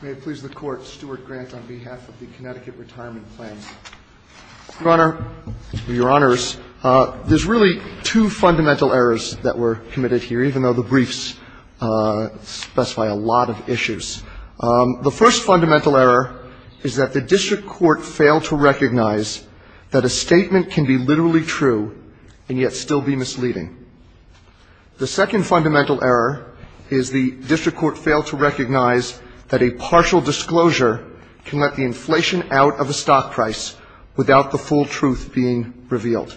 May it please the Court, Stuart Grant on behalf of the Connecticut Retirement Plan. Your Honor, there's really two fundamental errors that were committed here, even though the briefs specify a lot of issues. The first fundamental error is that the district court failed to recognize that a statement can be literally true and yet still be misleading. The second fundamental error is the district court failed to recognize that a partial disclosure can let the inflation out of a stock price without the full truth being revealed.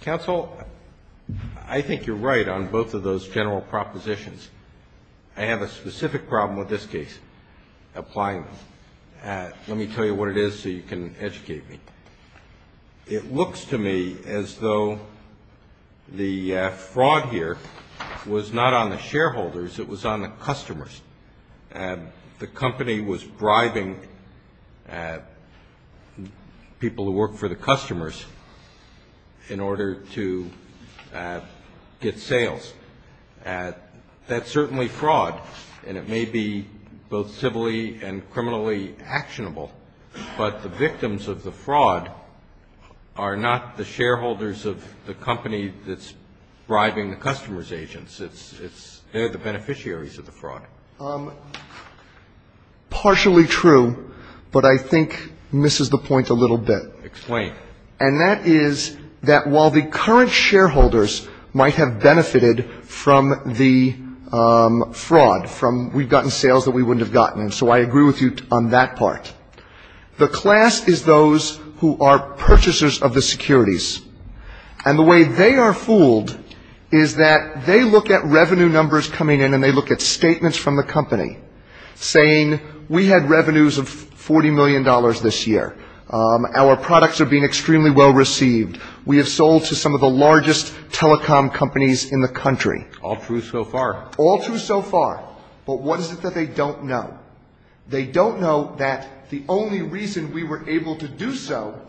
Counsel, I think you're right on both of those general propositions. I have a specific problem with this case. Applying them. Let me tell you what it is so you can educate me. It looks to me as though the fraud here was not on the shareholders. It was on the customers. The company was driving people who work for the customers in order to get sales. That's certainly fraud, and it may be both civilly and criminally actionable, but the victims of the fraud are not the shareholders of the company that's bribing the customer's agents. They're the beneficiaries of the fraud. Partially true, but I think misses the point a little bit. Explain. And that is that while the current shareholders might have benefited from the fraud, from we've gotten sales that we wouldn't have gotten, and so I agree with you on that part. The class is those who are purchasers of the securities, and the way they are fooled is that they look at revenue numbers coming in and they look at statements from the company saying we had revenues of $40 million this year. Our products are being extremely well received. We have sold to some of the largest telecom companies in the country. All true so far. All true so far. But what is it that they don't know? They don't know that the only reason we were able to do so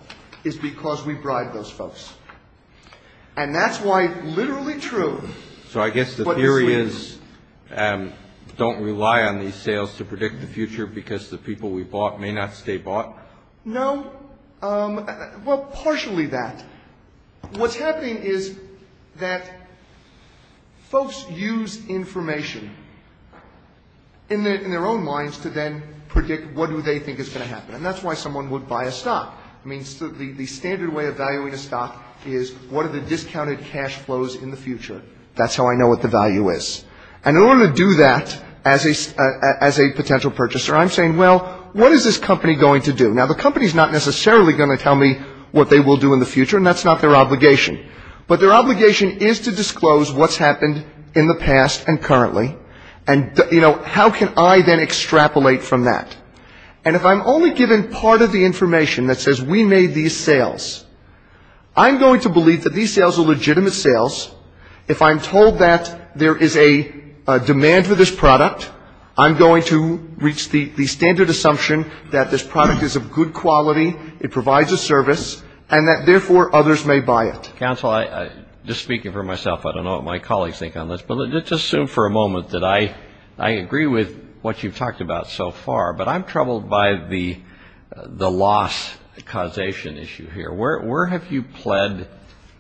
is because we bribed those folks. And that's why literally true, but misleading. So I guess the theory is don't rely on these sales to predict the future because the people we bought may not stay bought? No. Well, partially that. What's happening is that folks use information in their own minds to then predict what do they think is going to happen. And that's why someone would buy a stock. I mean, the standard way of valuing a stock is what are the discounted cash flows in the future. That's how I know what the value is. And in order to do that as a potential purchaser, I'm saying, well, what is this company going to do? Now, the company is not necessarily going to tell me what they will do in the future, and that's not their obligation. But their obligation is to disclose what's happened in the past and currently. And how can I then extrapolate from that? And if I'm only given part of the information that says we made these sales, I'm going to believe that these sales are legitimate sales. If I'm told that there is a demand for this product is of good quality, it provides a service, and that, therefore, others may buy it. Counsel, just speaking for myself, I don't know what my colleagues think on this, but let's assume for a moment that I agree with what you've talked about so far. But I'm troubled by the loss causation issue here. Where have you pled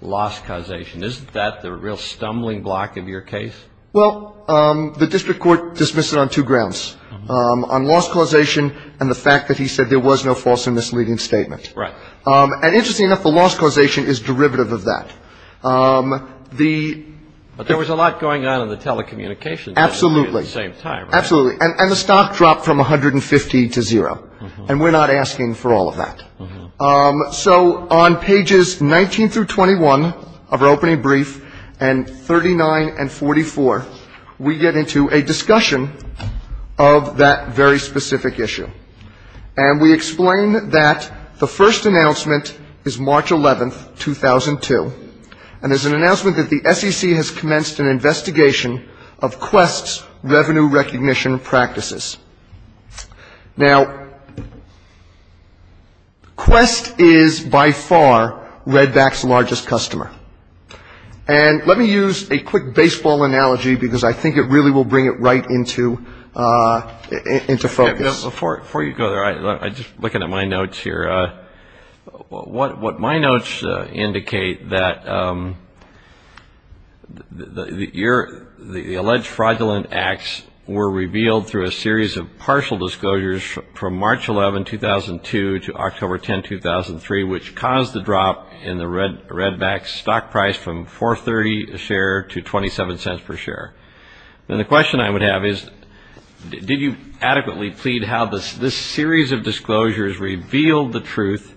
loss causation? Isn't that the real stumbling block of your case? Well, the district court dismissed it on two grounds, on loss causation and the fact that he said there was no false or misleading statement. And interestingly enough, the loss causation is derivative of that. There was a lot going on in the telecommunications industry at the same time, right? Absolutely. And the stock dropped from 150 to zero. And we're not asking for all of that. So on pages 19 through 21 of our opening brief, and 39 and 44, we get into a discussion of that very specific issue. And we explain that the first announcement is March 11, 2002. And there's an announcement that the SEC has commenced an investigation of Quest's revenue recognition practices. Now, Quest is by far Redback's largest customer. And let me use a quick baseball analogy, because I think it really will bring it right into focus. Before you go there, I'm just looking at my notes here. What my notes indicate, that the alleged fraudulent acts were revealed through a series of partial disclosures from March 11, 2002 to October 10, 2003, which caused the drop in the Redback stock price from 4.30 a share to 27 cents per share. And the question I would have is, did you adequately plead how this series of disclosures revealed the truth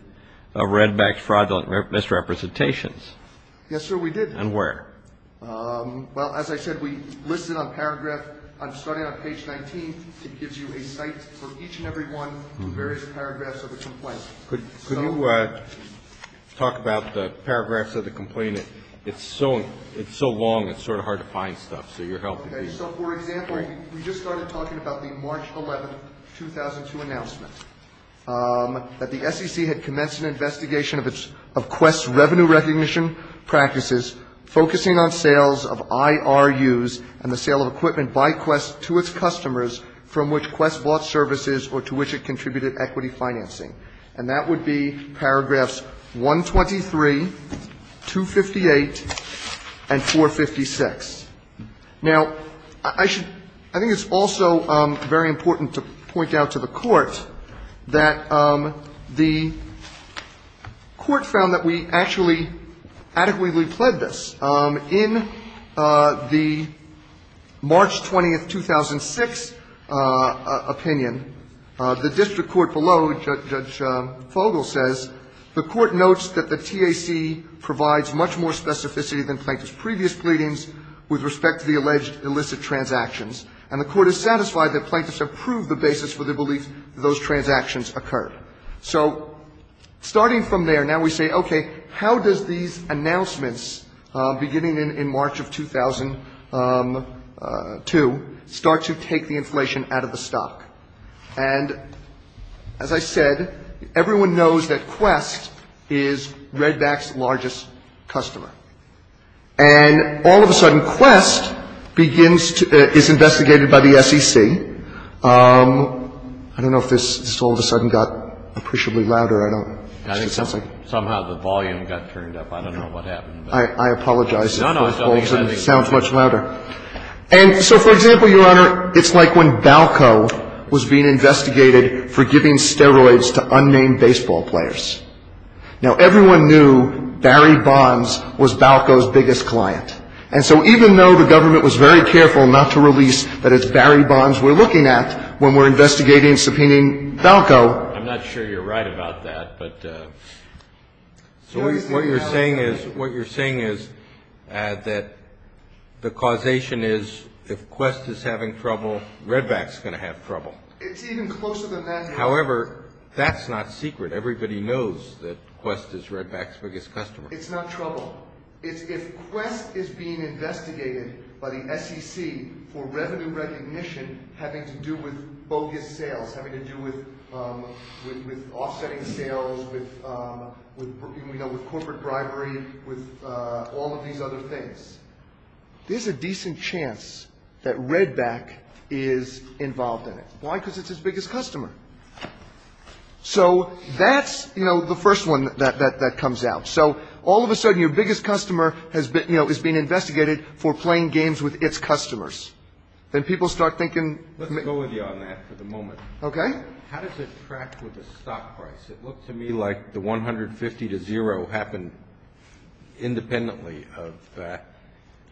of Redback's fraudulent misrepresentations? Yes, sir, we did. And where? Well, as I said, we listed on paragraph, starting on page 19, it gives you a site for each and every one of the various paragraphs of the complaint. Could you talk about the paragraphs of the complaint? It's so long, it's sort of hard to find stuff. So your help would be great. So, for example, we just started talking about the March 11, 2002 announcement that the SEC had commenced an investigation of Quest's revenue recognition practices, focusing on sales of IRUs and the sale of equipment by Quest to its customers from which Quest bought Now, I think it's also very important to point out to the Court that the Court found that we actually adequately pled this. In the March 20, 2006 opinion, the district attorney, Judge Fogel, says the Court notes that the TAC provides much more specificity than Plaintiff's previous pleadings with respect to the alleged illicit transactions, and the Court is satisfied that Plaintiffs have proved the basis for the belief that those transactions occurred. So starting from there, now we say, okay, how does these things relate to the fact that everyone knows that Quest is Redback's largest customer? And all of a sudden, Quest begins to – is investigated by the SEC. I don't know if this all of a sudden got appreciably louder. I don't – I think somehow the volume got turned up. I don't know what happened. I apologize if it sounds much louder. No, no, it's okay. For example, Your Honor, it's like when Balco was being investigated for giving steroids to unnamed baseball players. Now, everyone knew Barry Bonds was Balco's biggest client. And so even though the government was very careful not to release that it's Barry Bonds we're looking at when we're investigating and subpoenaing Balco – I'm not sure you're right about that, but – What you're saying is that the causation is if Quest is having trouble, Redback's going to have trouble. It's even closer than that. However, that's not secret. Everybody knows that Quest is Redback's biggest customer. It's not trouble. If Quest is being investigated by the SEC for revenue recognition having to do with bogus sales, having to do with offsetting sales, with corporate bribery, with all of these other things, there's a decent chance that Redback is involved in it. Why? Because it's its biggest customer. So that's the first one that comes out. So all of a sudden your biggest customer is being I'll go with you on that for the moment. Okay. How does it track with the stock price? It looked to me like the $150 to $0 happened independently of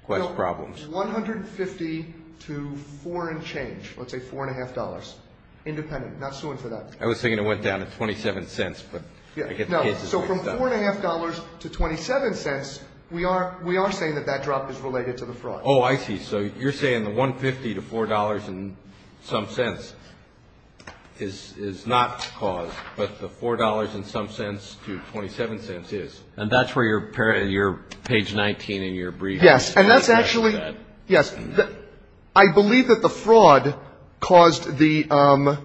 Quest problems. $150 to foreign change, let's say $4.50, independent, not suing for that. I was thinking it went down to $0.27. So from $4.50 to $0.27, we are saying that that drop is related to the fraud. Oh, I see. So you're saying the $150 to $4.00 in some sense is not caused. But the $4.00 in some sense to $0.27 is. And that's where your page 19 in your brief is. Yes. And that's actually yes. I believe that the fraud caused the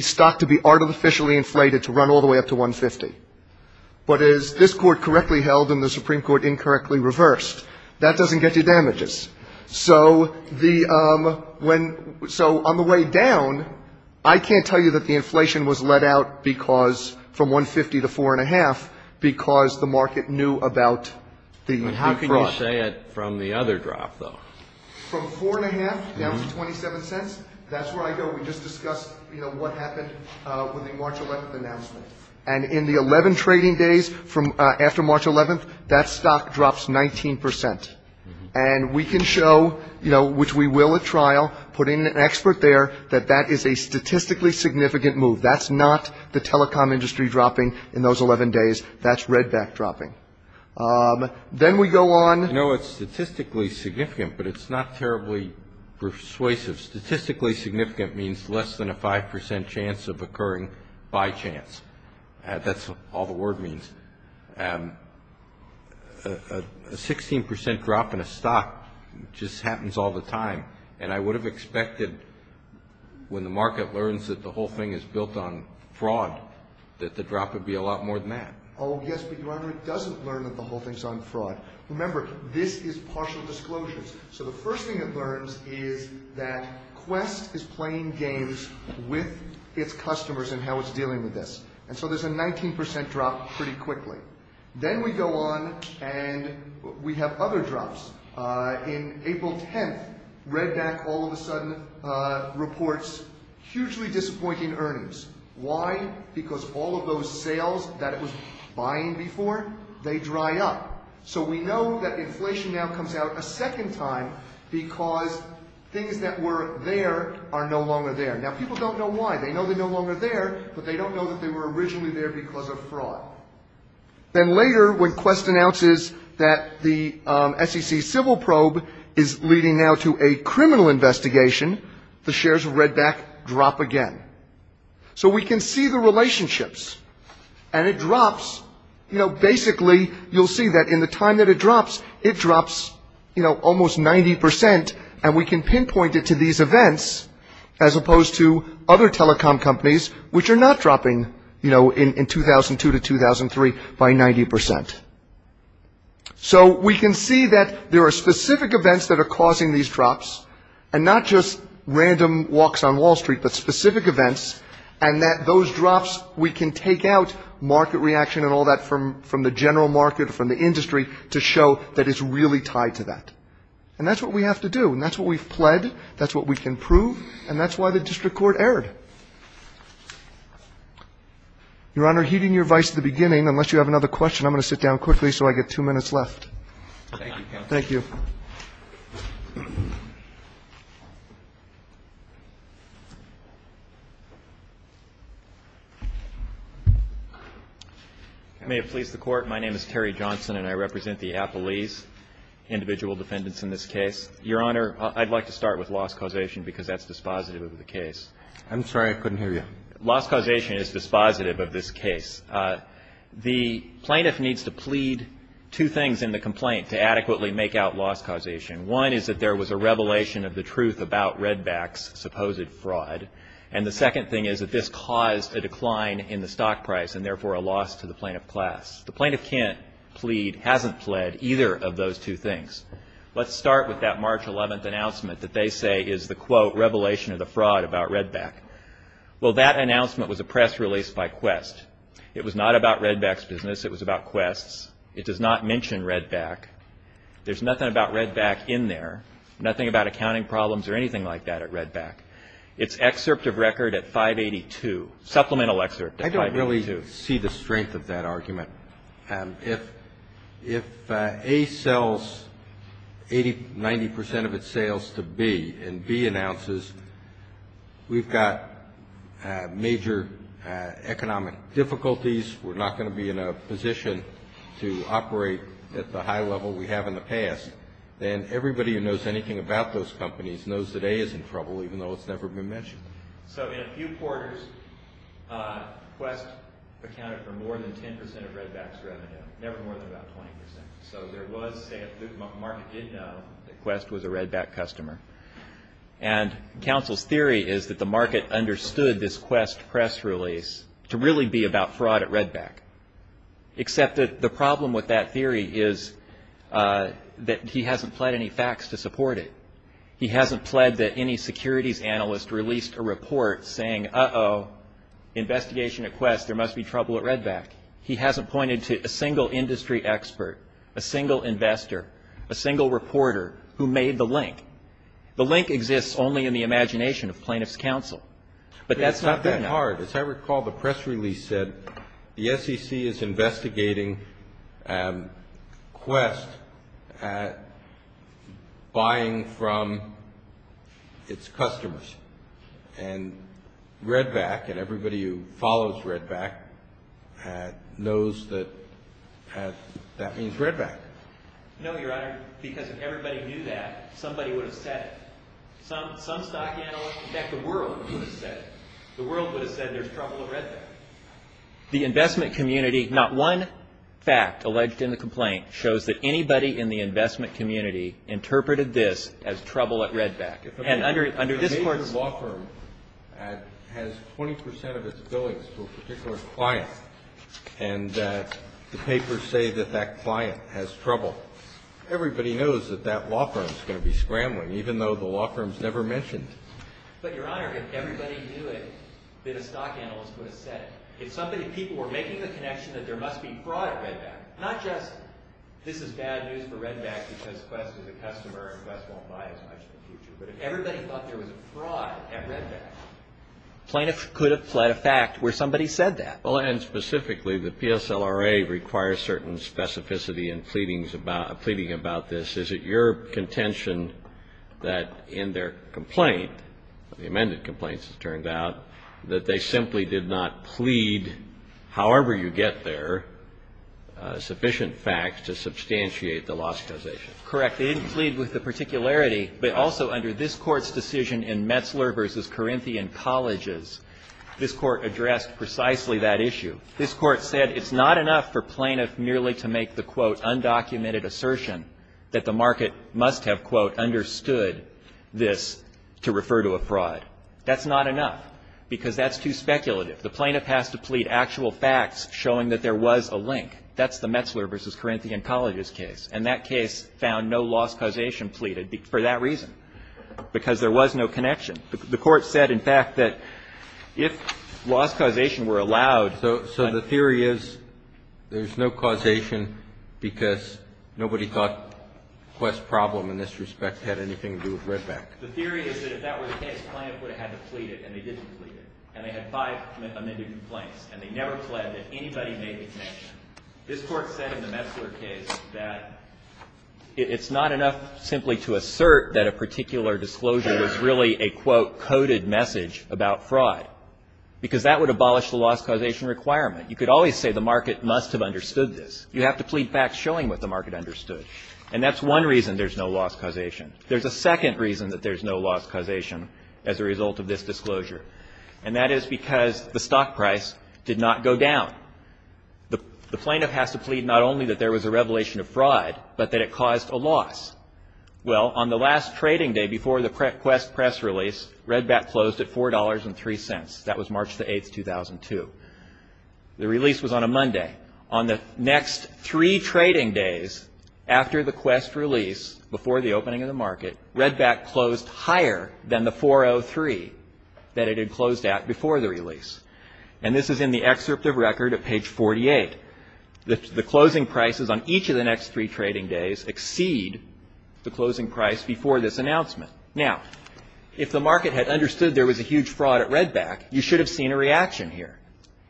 stock to be artificially inflated to run all the way up to $150. But is this court correctly held in the Supreme Court incorrectly reversed? That doesn't get you damages. So the when. So on the way down, I can't tell you that the inflation was let out because from $150 to $4.50, because the market knew about the. How can you say it from the other drop, though, from $4.50 down to $0.27? That's where I go. We just discussed what happened with the March 11th announcement. And in the 11 trading days from after March 11th, that stock drops 19 percent. And we can show, you know, which we will at trial put in an expert there that that is a statistically significant move. That's not the telecom industry dropping in those 11 days. That's redback dropping. Then we go on. No, it's statistically significant, but it's not terribly persuasive. Statistically significant means less than a 5 percent chance of occurring by chance. That's all the word means. A 16 percent drop in a stock just happens all the time. And I would have expected when the market learns that the whole thing is built on fraud, that the drop would be a lot more than that. Oh, yes. But it doesn't learn that the whole thing's on fraud. Remember, this is partial disclosures. So the first thing it learns is that Quest is playing games with its customers in how it's dealing with this. And so there's a 19 percent drop pretty quickly. Then we go on and we have other drops. In April 10th, redback all of a sudden reports hugely disappointing earnings. Why? Because all of those sales that it was buying before, they dry up. So we know that inflation now comes out a second time because things that were there are no longer there. Now, people don't know why. They know they're no longer there, but they don't know that they were originally there because of fraud. Then later, when Quest announces that the SEC civil probe is leading now to a criminal investigation, the shares of redback drop again. So we can see the relationships. And it drops. You know, basically, you'll see that in the time that it drops, it drops, you know, almost 90 percent. And we can pinpoint it to these events as opposed to other telecom companies, which are not dropping, you know, in 2002 to 2003 by 90 percent. So we can see that there are specific events that are causing these drops and not just random walks on Wall Street, but specific events. And that those drops, we can take out market reaction and all that from the general market, from the industry, to show that it's really tied to that. And that's what we have to do. And that's what we've pled. That's what we can prove. And that's why the district court erred. Your Honor, heeding your advice at the beginning, unless you have another question, I'm going to sit down quickly so I get two minutes left. Thank you, counsel. Thank you. May it please the Court. My name is Terry Johnson, and I represent the Appalese individual defendants in this case. Your Honor, I'd like to start with loss causation because that's dispositive of the case. I'm sorry, I couldn't hear you. Loss causation is dispositive of this case. The plaintiff needs to plead two things in the complaint to adequately make out loss causation. One is that there was a revelation of the truth about Redback's supposed fraud. And the second thing is that this caused a decline in the stock price and therefore a loss to the plaintiff class. The plaintiff can't plead, hasn't pled, either of those two things. Let's start with that March 11th announcement that they say is the, quote, revelation of the fraud about Redback. Well, that announcement was a press release by Quest. It was not about Redback's business. It was about Quest's. It does not mention Redback. There's nothing about Redback in there, nothing about accounting problems or anything like that at Redback. It's excerpt of record at 582, supplemental excerpt at 582. I don't really see the strength of that argument. If A sells 80%, 90% of its sales to B and B announces we've got major economic difficulties, we're not going to be in a position to operate at the high level we have in the past, then everybody who knows anything about those companies knows that A is in trouble even though it's never been mentioned. So in a few quarters, Quest accounted for more than 10% of Redback's revenue, never more than about 20%. So there was, say, a market did know that Quest was a Redback customer, and counsel's theory is that the market understood this Quest press release to really be about fraud at Redback, except that the problem with that theory is that he hasn't pled any facts to support it. He hasn't pled that any securities analyst released a report saying, uh-oh, investigation at Quest, there must be trouble at Redback. He hasn't pointed to a single industry expert, a single investor, a single reporter who made the link. The link exists only in the imagination of plaintiff's counsel, but that's not there now. As I recall, the press release said the SEC is investigating Quest buying from its customers, and Redback and everybody who follows Redback knows that that means Redback. No, Your Honor, because if everybody knew that, somebody would have said it. Some stock analyst, in fact, the world would have said it. The world would have said there's trouble at Redback. The investment community, not one fact alleged in the complaint, shows that anybody in the investment community interpreted this as trouble at Redback. And under this court's- A major law firm has 20% of its billings to a particular client, and the papers say that that client has trouble. Everybody knows that that law firm's going to be scrambling, even though the law firm's never mentioned it. But, Your Honor, if everybody knew it, then a stock analyst would have said it. If somebody, people were making the connection that there must be fraud at Redback, not just this is bad news for Redback because Quest is a customer and Quest won't buy as much in the future, but if everybody thought there was a fraud at Redback- Plaintiffs could have fled a fact where somebody said that. Well, and specifically, the PSLRA requires certain specificity in pleading about this. Is it your contention that in their complaint, the amended complaint, it turns out, that they simply did not plead, however you get there, sufficient facts to substantiate the lost causation? Correct. They didn't plead with the particularity, but also under this court's decision in Metzler v. Corinthian Colleges, this Court addressed precisely that issue. This Court said it's not enough for plaintiff merely to make the, quote, undocumented assertion that the market must have, quote, understood this to refer to a fraud. That's not enough, because that's too speculative. The plaintiff has to plead actual facts showing that there was a link. That's the Metzler v. Corinthian Colleges case, and that case found no lost causation pleaded for that reason, because there was no connection. The Court said, in fact, that if lost causation were allowed. So the theory is there's no causation because nobody thought Quest's problem in this respect had anything to do with Redback? The theory is that if that were the case, the plaintiff would have had to plead it, and they didn't plead it. And they had five amended complaints, and they never pled that anybody made the connection. This Court said in the Metzler case that it's not enough simply to assert that a particular disclosure was really a, quote, coded message about fraud, because that would abolish the lost causation requirement. You could always say the market must have understood this. You have to plead facts showing what the market understood, and that's one reason there's no lost causation. There's a second reason that there's no lost causation as a result of this disclosure, and that is because the stock price did not go down. The plaintiff has to plead not only that there was a revelation of fraud, but that it caused a loss. Well, on the last trading day before the Quest press release, Redback closed at $4.03. That was March 8, 2002. The release was on a Monday. On the next three trading days after the Quest release, before the opening of the market, Redback closed higher than the $4.03 that it had closed at before the release. And this is in the excerpt of record at page 48. The closing prices on each of the next three trading days exceed the closing price before this announcement. Now, if the market had understood there was a huge fraud at Redback, you should have seen a reaction here.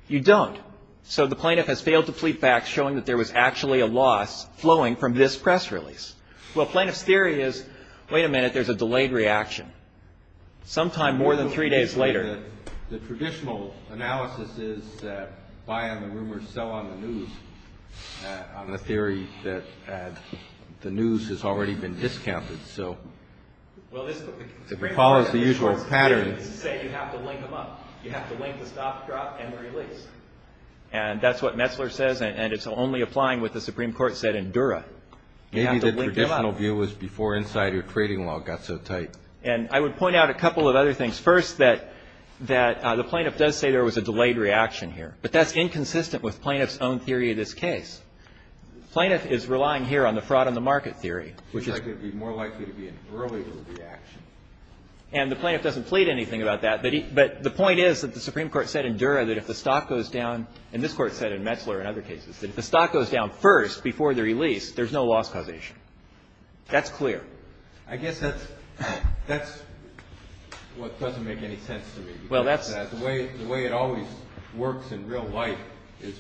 You don't. So the plaintiff has failed to plead facts showing that there was actually a loss flowing from this press release. Well, plaintiff's theory is, wait a minute, there's a delayed reaction. Sometime more than three days later. The traditional analysis is that buy on the rumors, sell on the news, on the theory that the news has already been discounted. So recall is the usual pattern. Say you have to link them up. You have to link the stop, drop, and release. And that's what Metzler says, and it's only applying what the Supreme Court said in Dura. Maybe the traditional view was before insider trading law got so tight. And I would point out a couple of other things. First, that the plaintiff does say there was a delayed reaction here. But that's inconsistent with plaintiff's own theory of this case. The plaintiff is relying here on the fraud on the market theory. Seems like it would be more likely to be an earlier reaction. And the plaintiff doesn't plead anything about that. But the point is that the Supreme Court said in Dura that if the stock goes down, and this Court said in Metzler and other cases, that if the stock goes down first before the release, there's no loss causation. That's clear. I guess that's what doesn't make any sense to me. The way it always works in real life is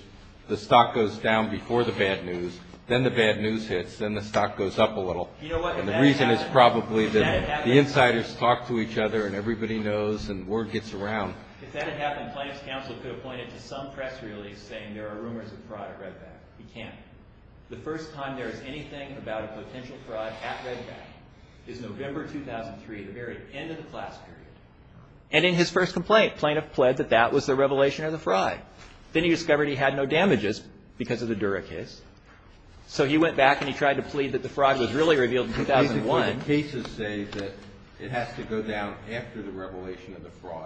the stock goes down before the bad news, then the bad news hits, then the stock goes up a little. And the reason is probably that the insiders talk to each other and everybody knows and word gets around. If that had happened, plaintiff's counsel could have pointed to some press release saying there are rumors of fraud at Redback. He can't. The first time there is anything about a potential fraud at Redback is November 2003, the very end of the class period. And in his first complaint, plaintiff pled that that was the revelation of the fraud. Then he discovered he had no damages because of the Dura case. So he went back and he tried to plead that the fraud was really revealed in 2001.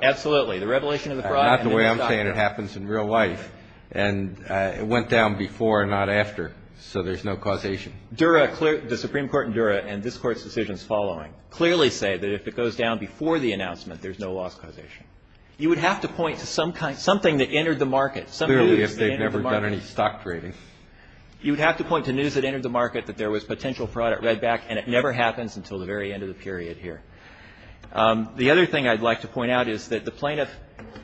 Absolutely. The revelation of the fraud. Not the way I'm saying it happens in real life. And it went down before and not after, so there's no causation. Dura, the Supreme Court in Dura and this Court's decisions following, clearly say that if it goes down before the announcement, there's no loss causation. You would have to point to something that entered the market. Clearly if they've never done any stock trading. You would have to point to news that entered the market that there was potential fraud at Redback and it never happens until the very end of the period here. The other thing I'd like to point out is that the plaintiff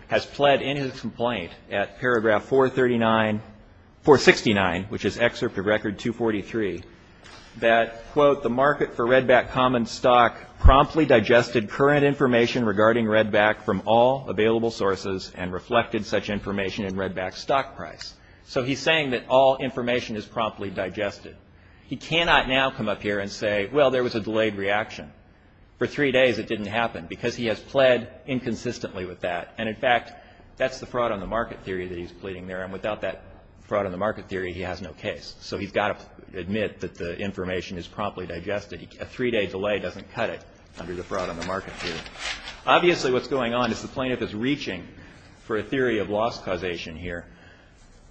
has pled in his complaint at paragraph 469, which is excerpt of record 243, that, quote, the market for Redback common stock promptly digested current information regarding Redback from all available sources and reflected such information in Redback's stock price. So he's saying that all information is promptly digested. He cannot now come up here and say, well, there was a delayed reaction. For three days it didn't happen because he has pled inconsistently with that. And, in fact, that's the fraud on the market theory that he's pleading there. And without that fraud on the market theory, he has no case. So he's got to admit that the information is promptly digested. A three-day delay doesn't cut it under the fraud on the market theory. Obviously what's going on is the plaintiff is reaching for a theory of loss causation here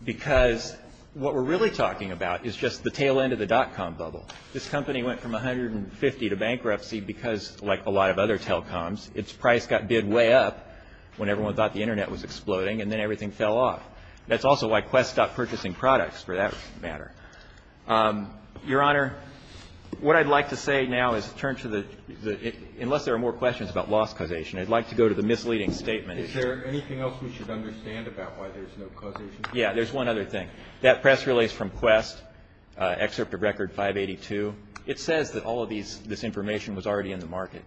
because what we're really talking about is just the tail end of the dot-com bubble. This company went from 150 to bankruptcy because, like a lot of other telecoms, its price got bid way up when everyone thought the Internet was exploding, and then everything fell off. That's also why Quest stopped purchasing products, for that matter. Your Honor, what I'd like to say now is turn to the – unless there are more questions about loss causation, I'd like to go to the misleading statement. Is there anything else we should understand about why there's no causation? Yeah. There's one other thing. That press release from Quest, Excerpt of Record 582, it says that all of this information was already in the market.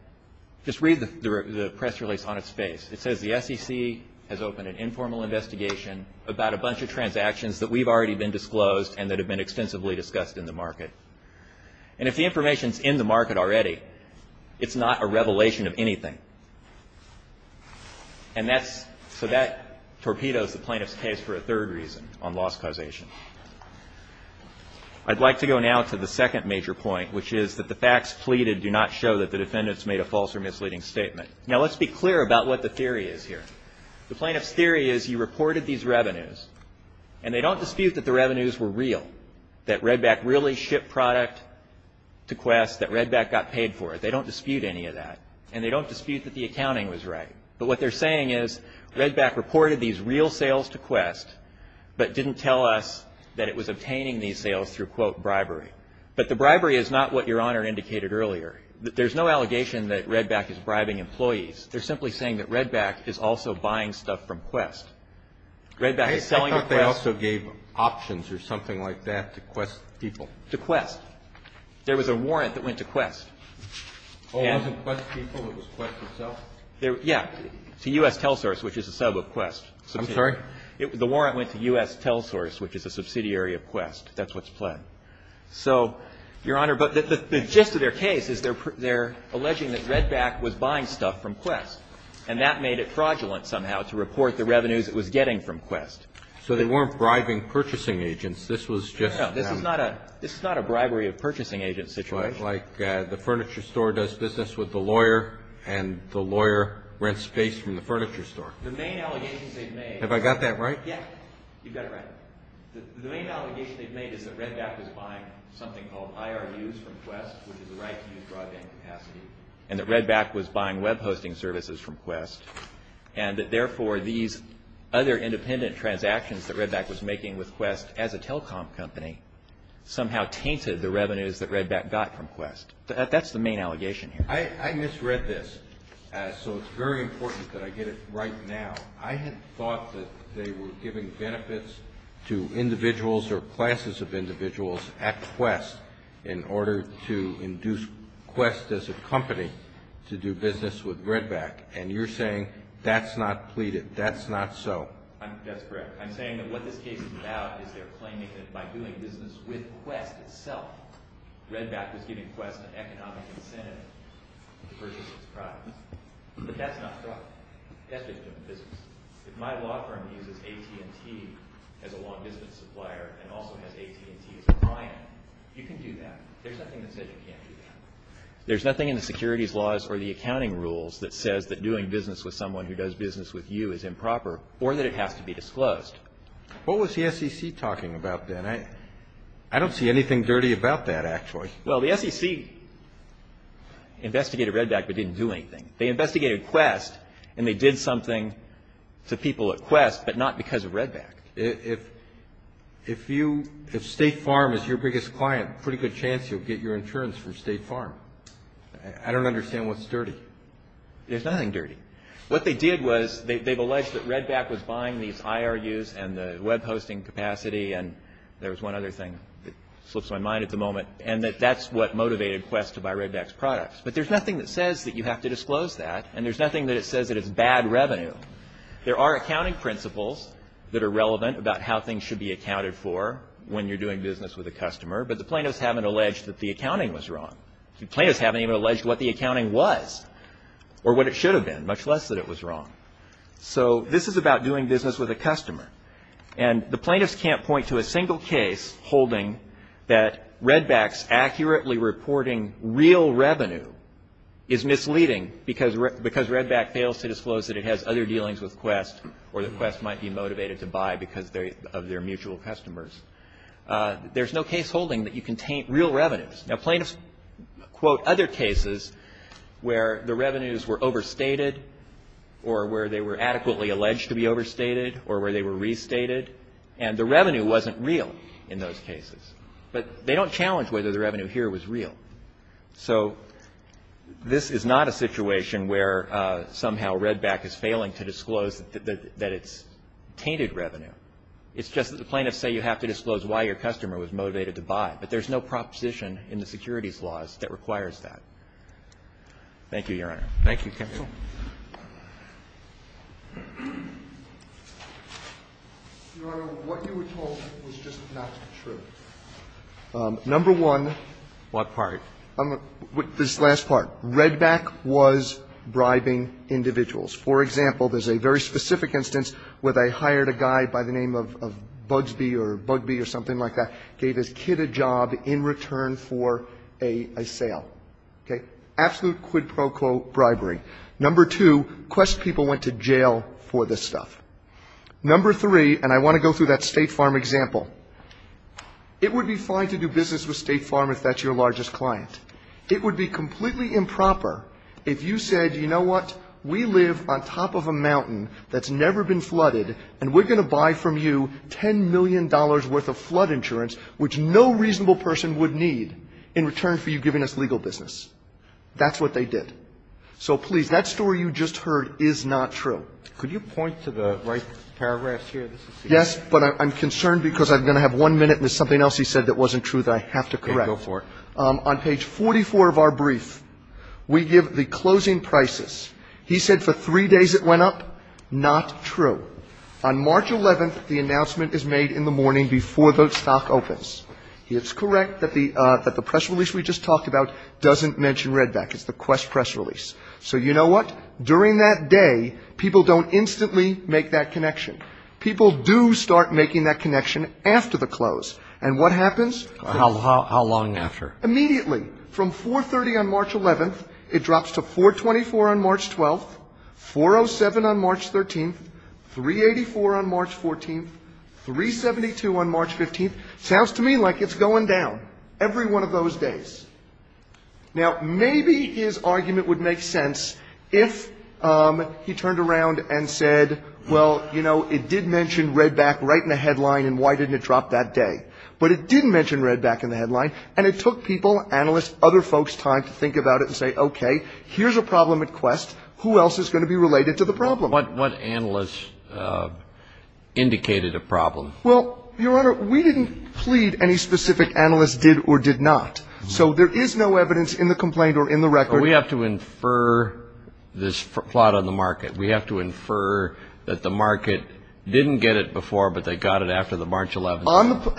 Just read the press release on its face. It says the SEC has opened an informal investigation about a bunch of transactions that we've already been disclosed and that have been extensively discussed in the market. And if the information is in the market already, it's not a revelation of anything. And that's – so that torpedoes the plaintiff's case for a third reason on loss causation. I'd like to go now to the second major point, which is that the facts pleaded do not show that the defendants made a false or misleading statement. Now, let's be clear about what the theory is here. The plaintiff's theory is you reported these revenues, and they don't dispute that the revenues were real, that Redback really shipped product to Quest, that Redback got paid for it. They don't dispute any of that. And they don't dispute that the accounting was right. But what they're saying is Redback reported these real sales to Quest, but didn't tell us that it was obtaining these sales through, quote, bribery. But the bribery is not what Your Honor indicated earlier. There's no allegation that Redback is bribing employees. They're simply saying that Redback is also buying stuff from Quest. Redback is selling to Quest. I thought they also gave options or something like that to Quest people. To Quest. There was a warrant that went to Quest. And? Oh, it wasn't Quest people. It was Quest itself. Yeah. To U.S. Telsource, which is a sub of Quest. I'm sorry? The warrant went to U.S. Telsource, which is a subsidiary of Quest. That's what's pled. So, Your Honor, but the gist of their case is they're alleging that Redback was buying stuff from Quest, and that made it fraudulent somehow to report the revenues it was getting from Quest. So they weren't bribing purchasing agents. This was just, you know. This is not a bribery of purchasing agent situation. Like the furniture store does business with the lawyer, and the lawyer rents space from the furniture store. The main allegations they've made. Have I got that right? Yeah. You've got it right. The main allegation they've made is that Redback was buying something called IRUs from Quest, which is the right to use broadband capacity, and that Redback was buying web hosting services from Quest, and that therefore these other independent transactions that Redback was making with Quest as a telecom company somehow tainted the revenues that Redback got from Quest. That's the main allegation here. I misread this, so it's very important that I get it right now. I had thought that they were giving benefits to individuals or classes of individuals at Quest in order to induce Quest as a company to do business with Redback, and you're saying that's not pleaded. That's not so. That's correct. I'm saying that what this case is about is they're claiming that by doing business with Quest itself, Redback was giving Quest an economic incentive to purchase its products, but that's not fraud. That's just doing business. If my law firm uses AT&T as a law business supplier and also has AT&T as a client, you can do that. There's nothing that says you can't do that. There's nothing in the securities laws or the accounting rules that says that doing business with someone who does business with you is improper or that it has to be disclosed. What was the SEC talking about then? I don't see anything dirty about that, actually. Well, the SEC investigated Redback but didn't do anything. They investigated Quest and they did something to people at Quest but not because of Redback. If State Farm is your biggest client, pretty good chance you'll get your insurance from State Farm. I don't understand what's dirty. There's nothing dirty. What they did was they've alleged that Redback was buying these IRUs and the web hosting capacity and there was one other thing that slips my mind at the moment, and that that's what motivated Quest to buy Redback's products. But there's nothing that says that you have to disclose that and there's nothing that says that it's bad revenue. There are accounting principles that are relevant about how things should be accounted for when you're doing business with a customer, but the plaintiffs haven't alleged that the accounting was wrong. The plaintiffs haven't even alleged what the accounting was or what it should have been, much less that it was wrong. So this is about doing business with a customer and the plaintiffs can't point to a single case holding that Redback's accurately reporting real revenue is misleading because Redback fails to disclose that it has other dealings with Quest or that Quest might be motivated to buy because of their mutual customers. There's no case holding that you contain real revenues. Now, plaintiffs quote other cases where the revenues were overstated or where they were adequately alleged to be overstated or where they were restated and the revenue wasn't real in those cases, but they don't challenge whether the revenue here was real. So this is not a situation where somehow Redback is failing to disclose that it's tainted revenue. It's just that the plaintiffs say you have to disclose why your customer was motivated to buy, but there's no proposition in the securities laws that requires that. Thank you, Your Honor. Thank you, counsel. Your Honor, what you were told was just not true. Number one. What part? This last part. Redback was bribing individuals. For example, there's a very specific instance where they hired a guy by the name of Bugsbee or Bugbee or something like that, gave his kid a job in return for a sale. Okay? Absolute quid pro quo bribery. Number two, Quest people went to jail for this stuff. Number three, and I want to go through that State Farm example. It would be fine to do business with State Farm if that's your largest client. It would be completely improper if you said, you know what, we live on top of a mountain that's never been flooded and we're going to buy from you $10 million worth of flood insurance, which no reasonable person would need in return for you giving us legal business. That's what they did. So, please, that story you just heard is not true. Could you point to the right paragraphs here? Yes, but I'm concerned because I'm going to have one minute and there's something else he said that wasn't true that I have to correct. Okay. Go for it. On page 44 of our brief, we give the closing prices. He said for three days it went up. Not true. On March 11th, the announcement is made in the morning before the stock opens. It's correct that the press release we just talked about doesn't mention Redback. It's the Quest press release. So you know what? During that day, people don't instantly make that connection. People do start making that connection after the close. And what happens? How long after? Immediately. From 430 on March 11th, it drops to 424 on March 12th, 407 on March 13th, 384 on March 14th, 372 on March 15th. Sounds to me like it's going down every one of those days. Now, maybe his argument would make sense if he turned around and said, well, you know, it did mention Redback right in the headline, and why didn't it drop that day? But it didn't mention Redback in the headline, and it took people, analysts, other folks time to think about it and say, okay, here's a problem at Quest. Who else is going to be related to the problem? What analysts indicated a problem? Well, Your Honor, we didn't plead any specific analysts did or did not. So there is no evidence in the complaint or in the record. We have to infer this plot on the market. We have to infer that the market didn't get it before, but they got it after the March 11th.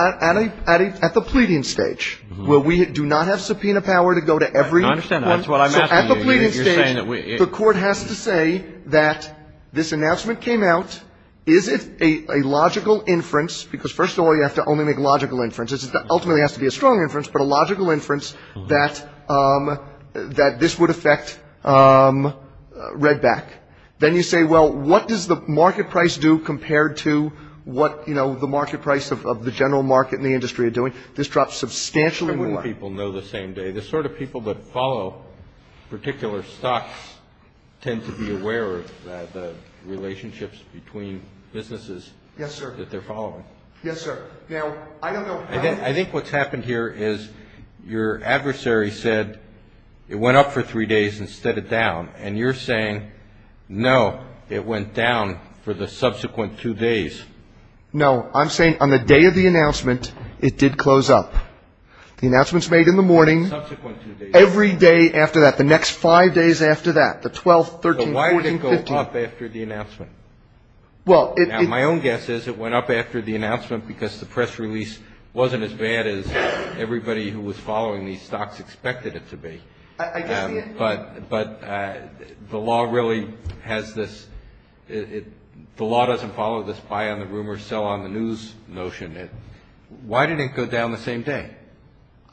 At the pleading stage, where we do not have subpoena power to go to every one. I understand that. That's what I'm asking you. At the pleading stage, the court has to say that this announcement came out. Is it a logical inference? Because first of all, you have to only make logical inferences. It ultimately has to be a strong inference, but a logical inference that this would affect Redback. Then you say, well, what does the market price do compared to what, you know, the market price of the general market and the industry are doing? This drops substantially more. How many people know the same day? The sort of people that follow particular stocks tend to be aware of the relationships between businesses. Yes, sir. That they're following. Yes, sir. Now, I don't know. I think what's happened here is your adversary said it went up for three days instead of down. And you're saying, no, it went down for the subsequent two days. No, I'm saying on the day of the announcement, it did close up. The announcement's made in the morning. Subsequent two days. Every day after that. The next five days after that. The 12th, 13th, 14th, 15th. But why did it go up after the announcement? Well, it. Now, my own guess is it went up after the announcement because the press release wasn't as bad as everybody who was following these stocks expected it to be. I guess the. But the law really has this. The law doesn't follow this buy on the rumors, sell on the news notion. Why did it go down the same day?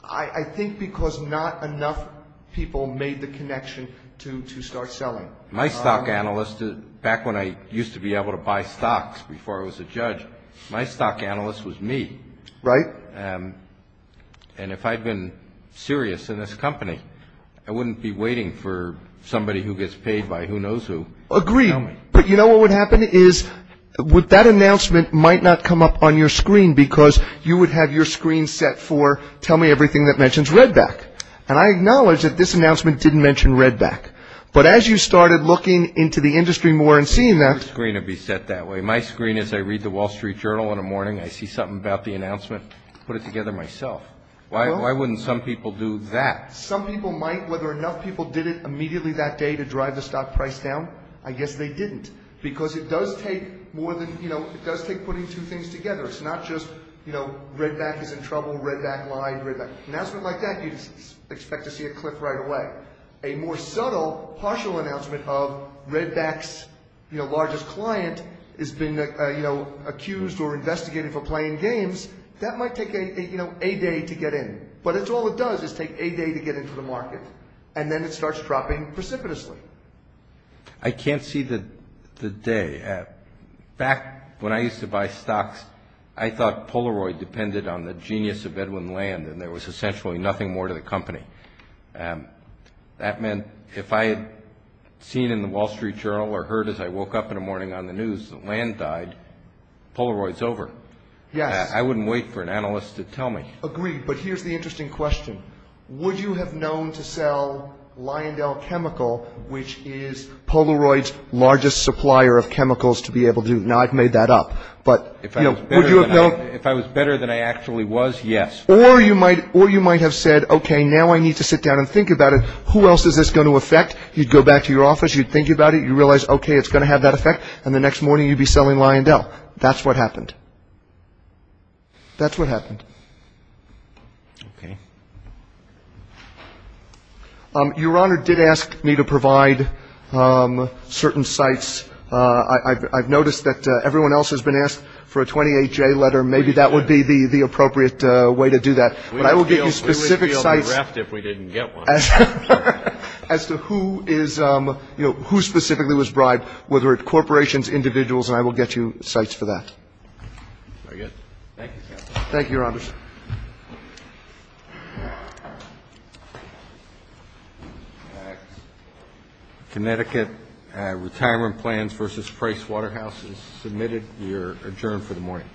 I think because not enough people made the connection to start selling. My stock analyst, back when I used to be able to buy stocks before I was a judge, my stock analyst was me. Right. And if I'd been serious in this company, I wouldn't be waiting for somebody who gets paid by who knows who. Agree. But you know what would happen is with that announcement might not come up on your screen because you would have your screen set for tell me everything that mentions Redback. And I acknowledge that this announcement didn't mention Redback. But as you started looking into the industry more and seeing that. Your screen would be set that way. My screen is I read the Wall Street Journal in the morning. I see something about the announcement, put it together myself. Why wouldn't some people do that? Some people might. Whether enough people did it immediately that day to drive the stock price down, I guess they didn't. Because it does take putting two things together. It's not just Redback is in trouble, Redback lied, Redback. An announcement like that you'd expect to see a cliff right away. A more subtle, partial announcement of Redback's largest client has been accused or investigated for playing games, that might take a day to get in. But that's all it does is take a day to get into the market. And then it starts dropping precipitously. I can't see the day. Back when I used to buy stocks, I thought Polaroid depended on the genius of Edwin Land, and there was essentially nothing more to the company. That meant if I had seen in the Wall Street Journal or heard as I woke up in the morning on the news that Land died, Polaroid's over. Yes. I wouldn't wait for an analyst to tell me. Agreed. But here's the interesting question. Would you have known to sell Lyondell Chemical, which is Polaroid's largest supplier of chemicals, to be able to do it? Now, I've made that up, but would you have known? If I was better than I actually was, yes. Or you might have said, okay, now I need to sit down and think about it. Who else is this going to affect? You'd go back to your office, you'd think about it, you'd realize, okay, it's going to have that effect, and the next morning you'd be selling Lyondell. That's what happened. That's what happened. Okay. Your Honor, did ask me to provide certain sites. I've noticed that everyone else has been asked for a 28-J letter. Maybe that would be the appropriate way to do that. But I will give you specific sites. We would be on the raft if we didn't get one. As to who is, you know, who specifically was bribed, whether it's corporations, individuals, Very good. Thank you, counsel. Thank you, Your Honor. Connecticut Retirement Plans v. Price Waterhouse is submitted. You're adjourned for the morning.